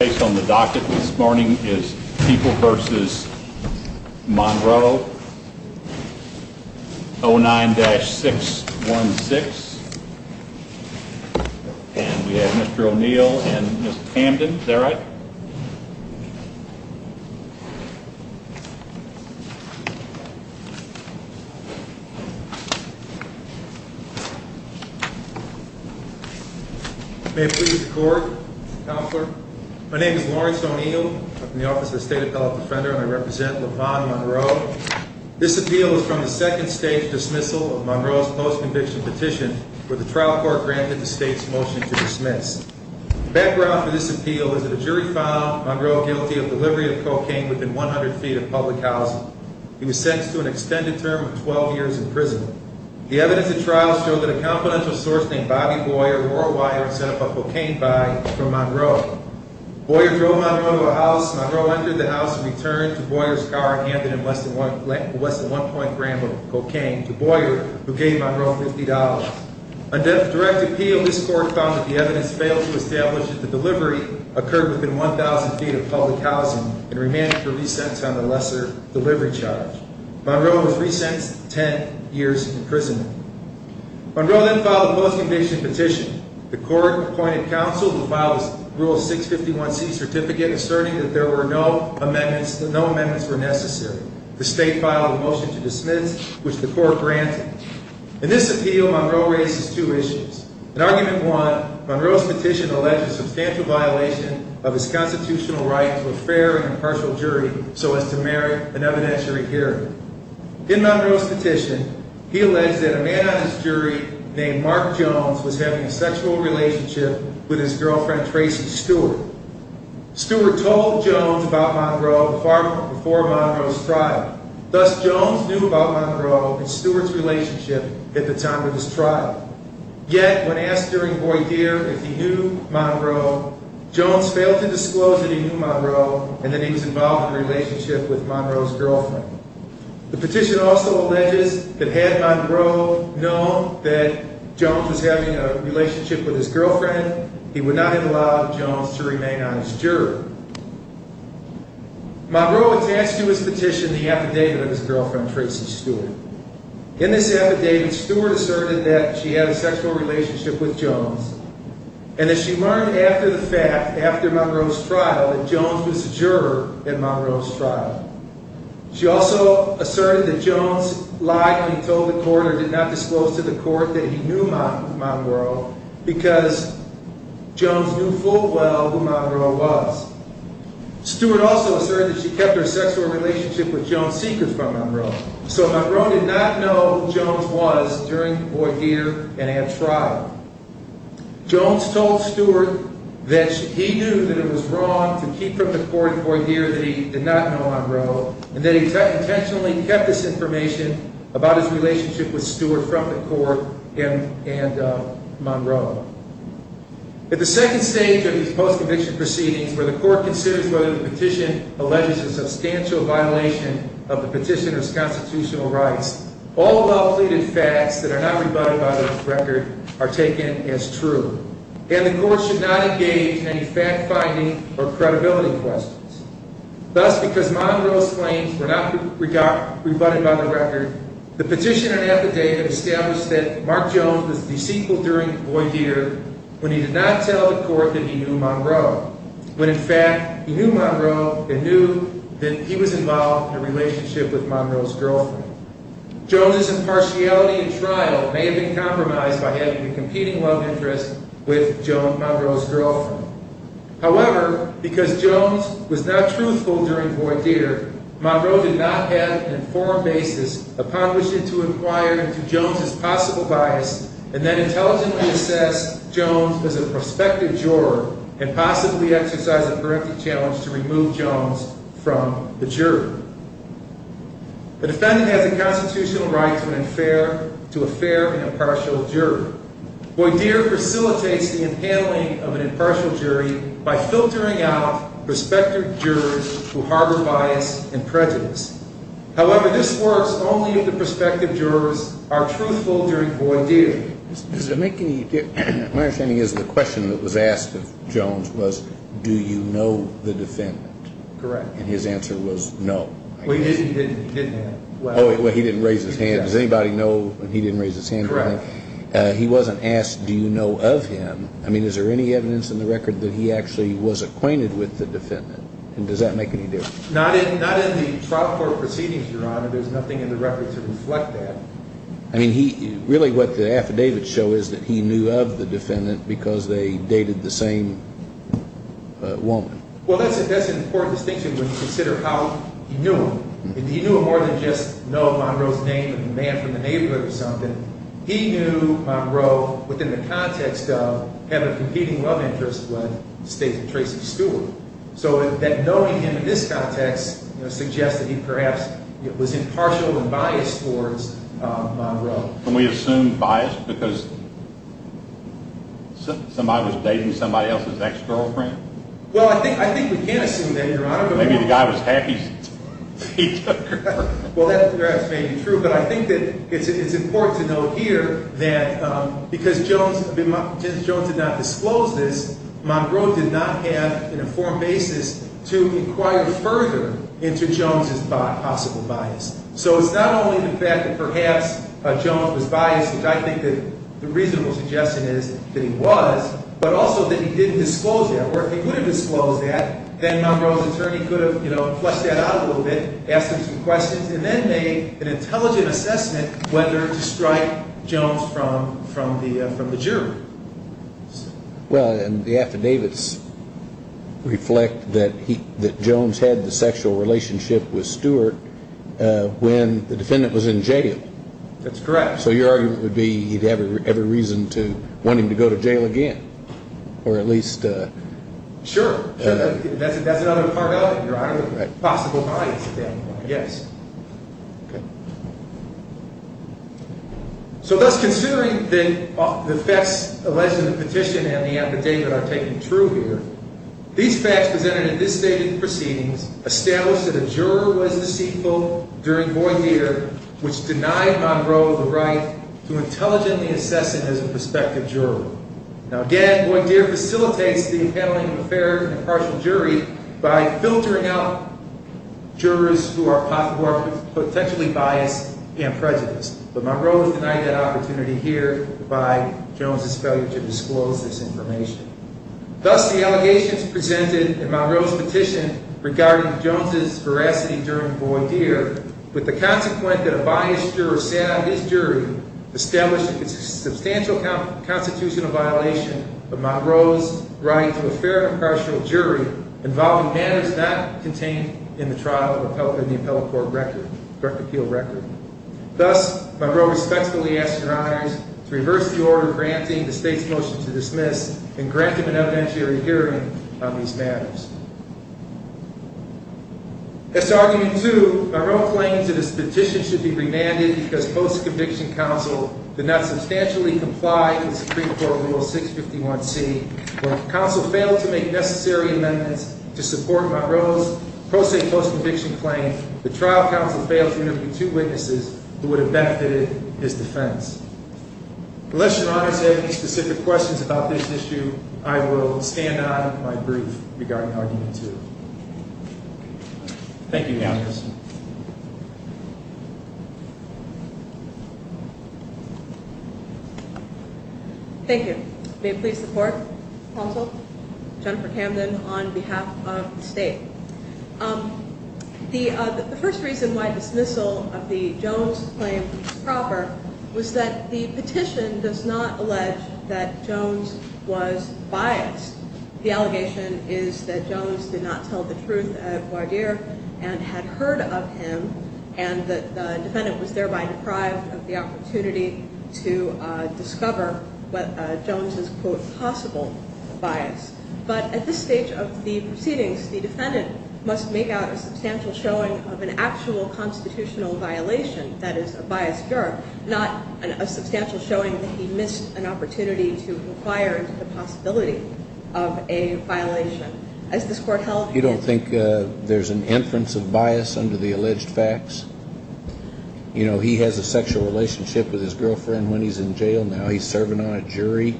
Based on the docket this morning is People v. Monroe, 09-616. And we have Mr. O'Neill and Ms. Camden. Is that right? May it please the court. Counselor. My name is Lawrence O'Neill. I'm from the Office of the State Appellate Defender and I represent LaVon Monroe. This appeal is from the second stage dismissal of Monroe's post-conviction petition where the trial court granted the state's motion to dismiss. The background for this appeal is that a jury found Monroe guilty of delivery of cocaine within 100 feet of public housing. He was sentenced to an extended term of 12 years in prison. The evidence at trial showed that a confidential source named Bobby Boyer wore a wire and set up a cocaine buy from Monroe. Boyer drove Monroe to a house. Monroe entered the house and returned to Boyer's car and handed him less than one point gram of cocaine to Boyer who gave Monroe $50. Under the direct appeal, this court found that the evidence failed to establish that the delivery occurred within 1,000 feet of public housing and remanded for re-sentence on the lesser delivery charge. Monroe was re-sentenced to 10 years in prison. Monroe then filed a post-conviction petition. The court appointed counsel who filed a Rule 651C certificate asserting that no amendments were necessary. The state filed a motion to dismiss which the court granted. In this appeal, Monroe raised two issues. In argument one, Monroe's petition alleged a substantial violation of his constitutional right to a fair and impartial jury so as to merit an evidentiary hearing. In Monroe's petition, he alleged that a man on his jury named Mark Jones was having a sexual relationship with his girlfriend Tracy Stewart. Stewart told Jones about Monroe far before Monroe's trial. Thus, Jones knew about Monroe and Stewart's relationship at the time of his trial. Yet, when asked during Boyer if he knew Monroe, Jones failed to disclose that he knew Monroe and that he was involved in a relationship with Monroe's girlfriend. The petition also alleges that had Monroe known that Jones was having a relationship with his girlfriend, he would not have allowed Jones to remain on his jury. Monroe attached to his petition the affidavit of his girlfriend, Tracy Stewart. In this affidavit, Stewart asserted that she had a sexual relationship with Jones and that she learned after the fact, after Monroe's trial, that Jones was a juror at Monroe's trial. She also asserted that Jones lied when he told the court or did not disclose to the court that he knew Monroe because Jones knew full well who Monroe was. Stewart also asserted that she kept her sexual relationship with Jones secret from Monroe, so Monroe did not know who Jones was during Boyer and at trial. Jones told Stewart that he knew that it was wrong to keep from the court in Boyer that he did not know Monroe and that he intentionally kept this information about his relationship with Stewart from the court and Monroe. At the second stage of these post-conviction proceedings where the court considers whether the petition alleges a substantial violation of the petitioner's constitutional rights, all well-pleaded facts that are not rebutted by the record are taken as true and the court should not engage in any fact-finding or credibility questions. Thus, because Monroe's claims were not rebutted by the record, the petitioner in the affidavit established that Mark Jones was deceitful during Boyer when he did not tell the court that he knew Monroe, when in fact he knew Monroe and knew that he was involved in a relationship with Monroe's girlfriend. Jones's impartiality in trial may have been compromised by having a competing love interest with Monroe's girlfriend. However, because Jones was not truthful during Boyer, Monroe did not have an informed basis upon which to inquire into Jones's possible bias and then intelligently assess Jones as a prospective juror and possibly exercise a parenthetic challenge to remove Jones from the jury. The defendant has a constitutional right to a fair and impartial jury. Boyer facilitates the impaling of an impartial jury by filtering out prospective jurors who harbor bias and prejudice. However, this works only if the prospective jurors are truthful during Boyer. My understanding is the question that was asked of Jones was, do you know the defendant? Correct. And his answer was no. Well, he didn't raise his hand. Does anybody know that he didn't raise his hand? Correct. He wasn't asked, do you know of him? I mean, is there any evidence in the record that he actually was acquainted with the defendant? And does that make any difference? Not in the trial court proceedings, Your Honor. There's nothing in the record to reflect that. I mean, really what the affidavits show is that he knew of the defendant because they dated the same woman. Well, that's an important distinction when you consider how he knew him. He knew him more than just know Monroe's name or the man from the neighborhood or something. He knew Monroe within the context of having a competing love interest with State's Tracy Stewart. So that knowing him in this context suggests that he perhaps was impartial and biased towards Monroe. Can we assume bias because somebody was dating somebody else's ex-girlfriend? Well, I think we can assume that, Your Honor. Maybe the guy was happy that he took her. Well, that perhaps may be true, but I think that it's important to note here that because Jones did not disclose this, Monroe did not have an informed basis to inquire further into Jones' possible bias. So it's not only the fact that perhaps Jones was biased, which I think the reasonable suggestion is that he was, but also that he didn't disclose that. Or if he would have disclosed that, then Monroe's attorney could have, you know, fleshed that out a little bit, asked him some questions, and then made an intelligent assessment whether to strike Jones from the jury. Well, and the affidavits reflect that Jones had the sexual relationship with Stewart when the defendant was in jail. That's correct. So your argument would be he'd have every reason to want him to go to jail again, or at least... Sure. That's another part of it, Your Honor, the possible bias thing, yes. Okay. So thus, considering the facts alleged in the petition and the affidavit are taken true here, these facts presented in this stated proceedings establish that a juror was deceitful during Boydere, which denied Monroe the right to intelligently assess him as a prospective juror. Now, again, Boydere facilitates the appareling of a fair and impartial jury by filtering out jurors who are potentially biased and prejudiced. But Monroe denied that opportunity here by Jones's failure to disclose this information. Thus, the allegations presented in Monroe's petition regarding Jones's veracity during Boydere, with the consequent that a biased juror sat on his jury, established that it's a substantial constitutional violation of Monroe's right to apply to a fair and impartial jury involving matters not contained in the trial in the appellate court record, direct appeal record. Thus, Monroe respectfully asks Your Honors to reverse the order granting the state's motion to dismiss and grant him an evidentiary hearing on these matters. As to argument two, Monroe claims that his petition should be remanded because post-conviction counsel did not substantially comply with Supreme Court Rule 651C. When counsel failed to make necessary amendments to support Monroe's pro se post-conviction claim, the trial counsel failed to interview two witnesses who would have benefited his defense. Unless Your Honors have any specific questions about this issue, I will stand on my brief regarding argument two. Thank you, Your Honors. Thank you. May it please the court, counsel, Jennifer Camden on behalf of the state. The first reason why dismissal of the Jones claim was proper was that the petition does not allege that Jones was biased. The allegation is that Jones did not tell the truth at Boydere and had heard of him and that the defendant was thereby deprived of the opportunity to discover Jones' quote possible bias. But at this stage of the proceedings, the defendant must make out a substantial showing of an actual constitutional violation, that is, a biased juror, not a substantial showing that he missed an opportunity to inquire into the possibility of a violation. You don't think there's an inference of bias under the alleged facts? You know, he has a sexual relationship with his girlfriend when he's in jail now. He's serving on a jury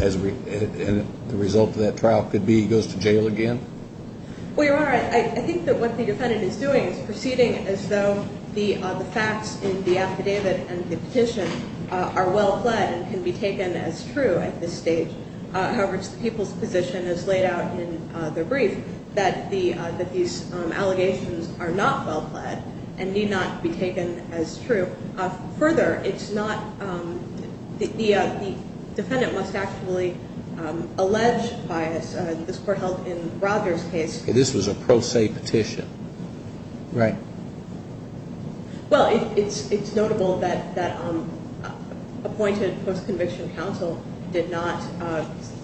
and the result of that trial could be he goes to jail again? Well, Your Honor, I think that what the defendant is doing is proceeding as though the facts in the affidavit and the petition are well-plaid and can be taken as true at this stage. However, the people's position is laid out in the brief that these allegations are not well-plaid and need not be taken as true. Further, the defendant must actually allege bias. This Court held in Roger's case. This was a pro se petition. Right. Well, it's notable that appointed post-conviction counsel did not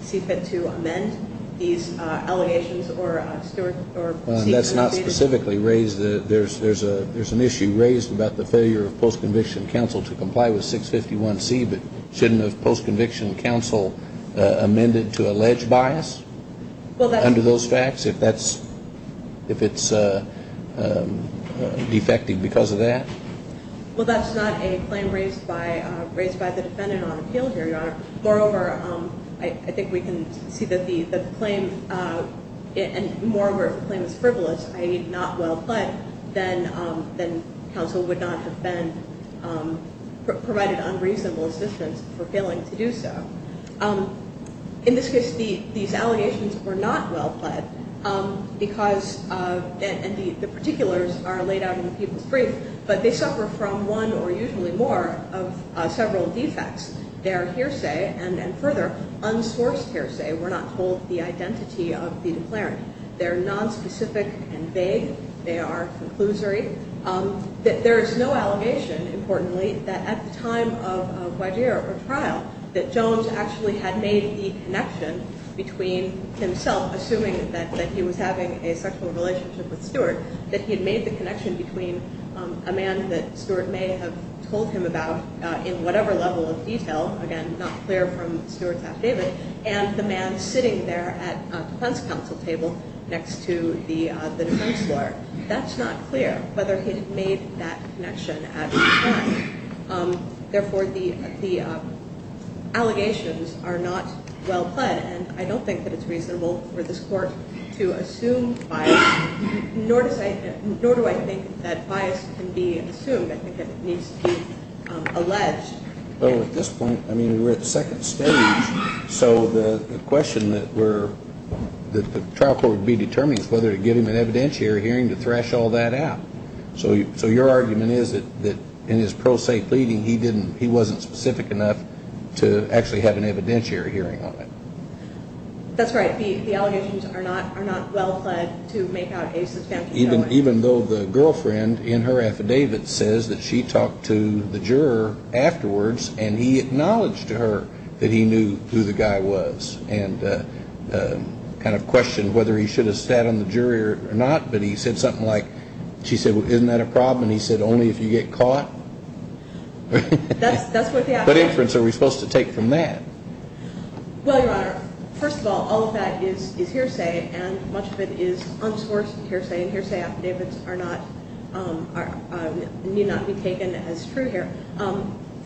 see fit to amend these allegations. That's not specifically raised. There's an issue raised about the failure of post-conviction counsel to comply with 651C, but shouldn't a post-conviction counsel amend it to allege bias under those facts? If it's defecting because of that? Well, that's not a claim raised by the defendant on appeal here, Your Honor. Moreover, I think we can see that the claim and moreover if the claim is frivolous, i.e. not well-plaid, then counsel would not have been provided unreasonable assistance for failing to do so. In this case, these allegations were not well-plaid because the particulars are laid out in the people's brief, but they suffer from one or usually more of several defects. Their hearsay and further unsourced hearsay were not told the identity of the declarant. They're nonspecific and vague. They are conclusory. There is no allegation, importantly, that at the time of Guadir or trial, that Jones actually had made the connection between himself, assuming that he was having a sexual relationship with Stewart, that he had made the connection between a man that Stewart may have told him about in whatever level of detail, again, not clear from Stewart's affidavit, and the man sitting there at defense counsel table next to the defense lawyer. That's not clear, whether he had made that connection at the time. Therefore, the allegations are not well-plaid, and I don't think that it's reasonable for this Court to assume bias, nor do I think that bias can be assumed. I think that it needs to be alleged. Well, at this point, I mean, we're at the second stage, so the question that the trial court would be determining is whether to give him an evidentiary hearing to thrash all that out. So your argument is that in his pro se pleading, he wasn't specific enough to actually have an evidentiary hearing on it. That's right. The allegations are not well-plaid to make out a suspense. Even though the girlfriend in her affidavit says that she talked to the juror afterwards and he acknowledged to her that he knew who the guy was and kind of questioned whether he should have sat on the jury or not, but he said something like, she said, well, isn't that a problem? And he said, only if you get caught. That's what the affidavit says. What inference are we supposed to take from that? Well, Your Honor, first of all, all of that is hearsay, and much of it is unsourced hearsay, and hearsay affidavits need not be taken as true here.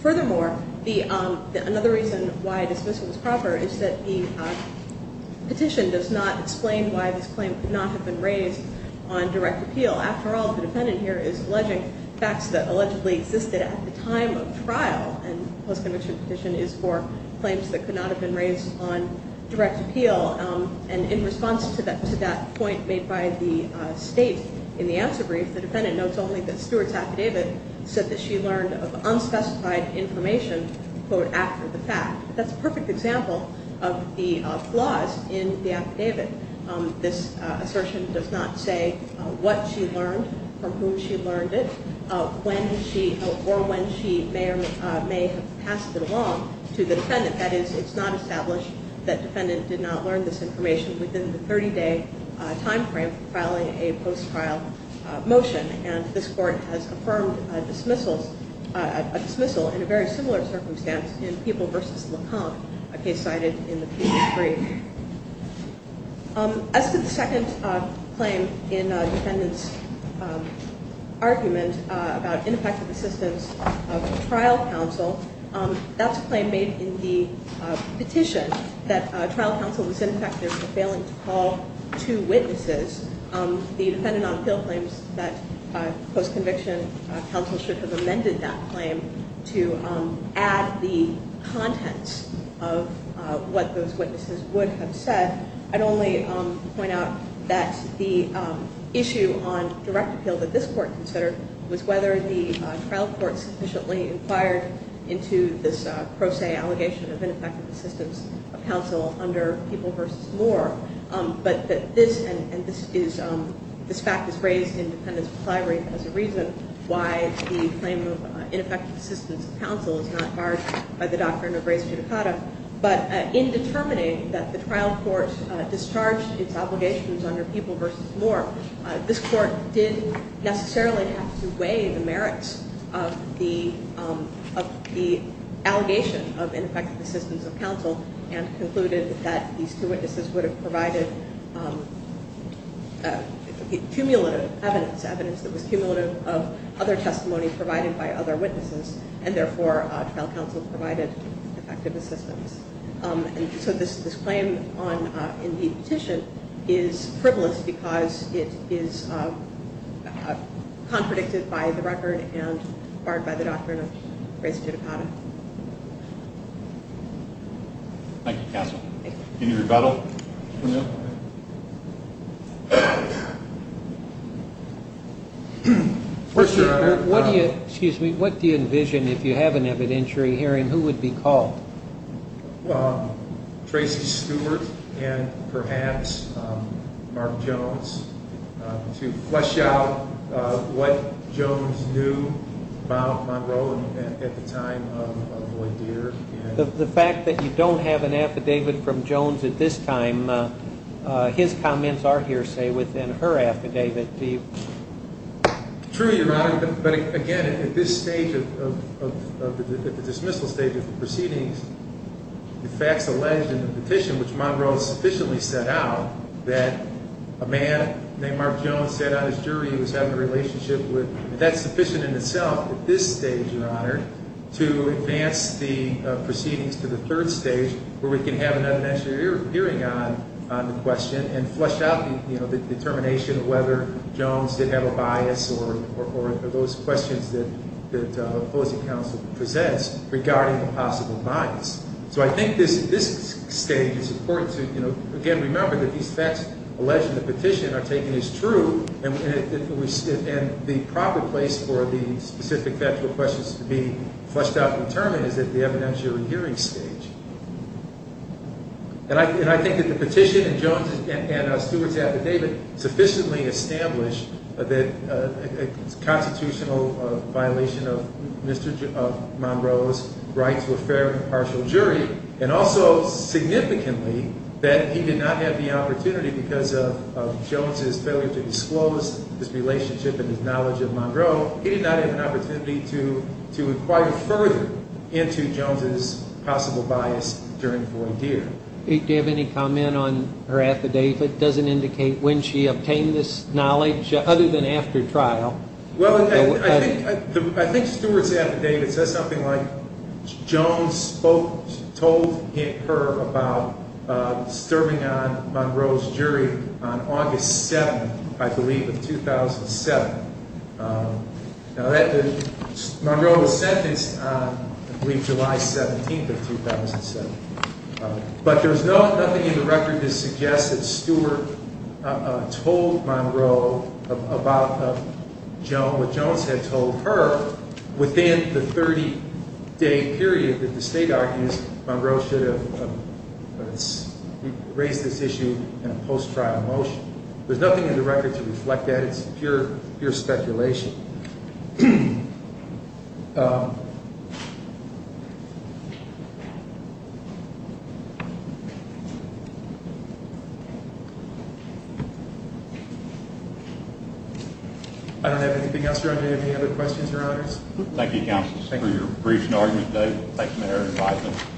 Furthermore, another reason why dismissal is proper is that the petition does not explain why this claim could not have been raised on direct appeal. After all, the defendant here is alleging facts that allegedly existed at the time of trial, and the post-conviction petition is for claims that could not have been raised on direct appeal. And in response to that point made by the state in the answer brief, the defendant notes only that Stewart's affidavit said that she learned of unspecified information, quote, after the fact. That's a perfect example of the flaws in the affidavit. This assertion does not say what she learned, from whom she learned it, or when she may or may have passed it along to the defendant. That is, it's not established that the defendant did not learn this information within the 30-day time frame for filing a post-trial motion, and this Court has affirmed a dismissal in a very similar circumstance in People v. Lacan, a case cited in the previous brief. As to the second claim in the defendant's argument about ineffective assistance of trial counsel, that's a claim made in the petition that trial counsel was ineffective for failing to call two witnesses. The defendant on appeal claims that post-conviction counsel should have amended that claim to add the contents of what those witnesses would have said. I'd only point out that the issue on direct appeal that this Court considered was whether the trial court sufficiently inquired into this pro se allegation of ineffective assistance of counsel under People v. Moore, but this fact is raised in the defendant's plenary as a reason why the claim of ineffective assistance of counsel is not barred by the doctrine of res judicata. But in determining that the trial court discharged its obligations under People v. Moore, this Court didn't necessarily have to weigh the merits of the allegation of ineffective assistance of counsel and concluded that these two witnesses would have provided cumulative evidence, evidence that was cumulative of other testimony provided by other witnesses, and therefore trial counsel provided ineffective assistance. And so this claim in the petition is frivolous because it is contradicted by the record and barred by the doctrine of res judicata. Thank you, counsel. Any rebuttal? What do you envision, if you have an evidentiary hearing, who would be called? Tracy Stewart and perhaps Mark Jones to flesh out what Jones knew about Monroe at the time of Lloyd Deere. The fact that you don't have an affidavit from Jones at this time, his comments are hearsay within her affidavit. True, Your Honor, but again, at this stage of the dismissal stage of the proceedings, the facts alleged in the petition, which Monroe sufficiently set out, that a man named Mark Jones said on his jury he was having a relationship with, that's sufficient in itself at this stage, Your Honor, to advance the proceedings to the third stage where we can have an evidentiary hearing on the question and flesh out the determination of whether Jones did have a bias or those questions that opposing counsel presents regarding the possible bias. So I think this stage is important to, again, remember that these facts alleged in the petition are taken as true and the proper place for the specific factual questions to be fleshed out and determined is at the evidentiary hearing stage. And I think that the petition and Jones and Stewart's affidavit sufficiently established that a constitutional violation of Monroe's rights were fair and impartial jury and also significantly that he did not have the opportunity because of Jones's failure to disclose his relationship and his knowledge of Monroe, he did not have an opportunity to inquire further into Jones's possible bias during voir dire. Do you have any comment on her affidavit? It doesn't indicate when she obtained this knowledge other than after trial. Well, I think Stewart's affidavit says something like Jones spoke, told her about disturbing on Monroe's jury on August 7th, I believe, of 2007. Monroe was sentenced on, I believe, July 17th of 2007. But there's nothing in the record to suggest that Stewart told Monroe about what Jones had told her within the 30-day period that the state argues Monroe should have raised this issue in a post-trial motion. There's nothing in the record to reflect that. It's pure speculation. Thank you. I don't have anything else around here. Any other questions or others? Thank you, counsel, for your briefing argument today. Thank you, Mayor.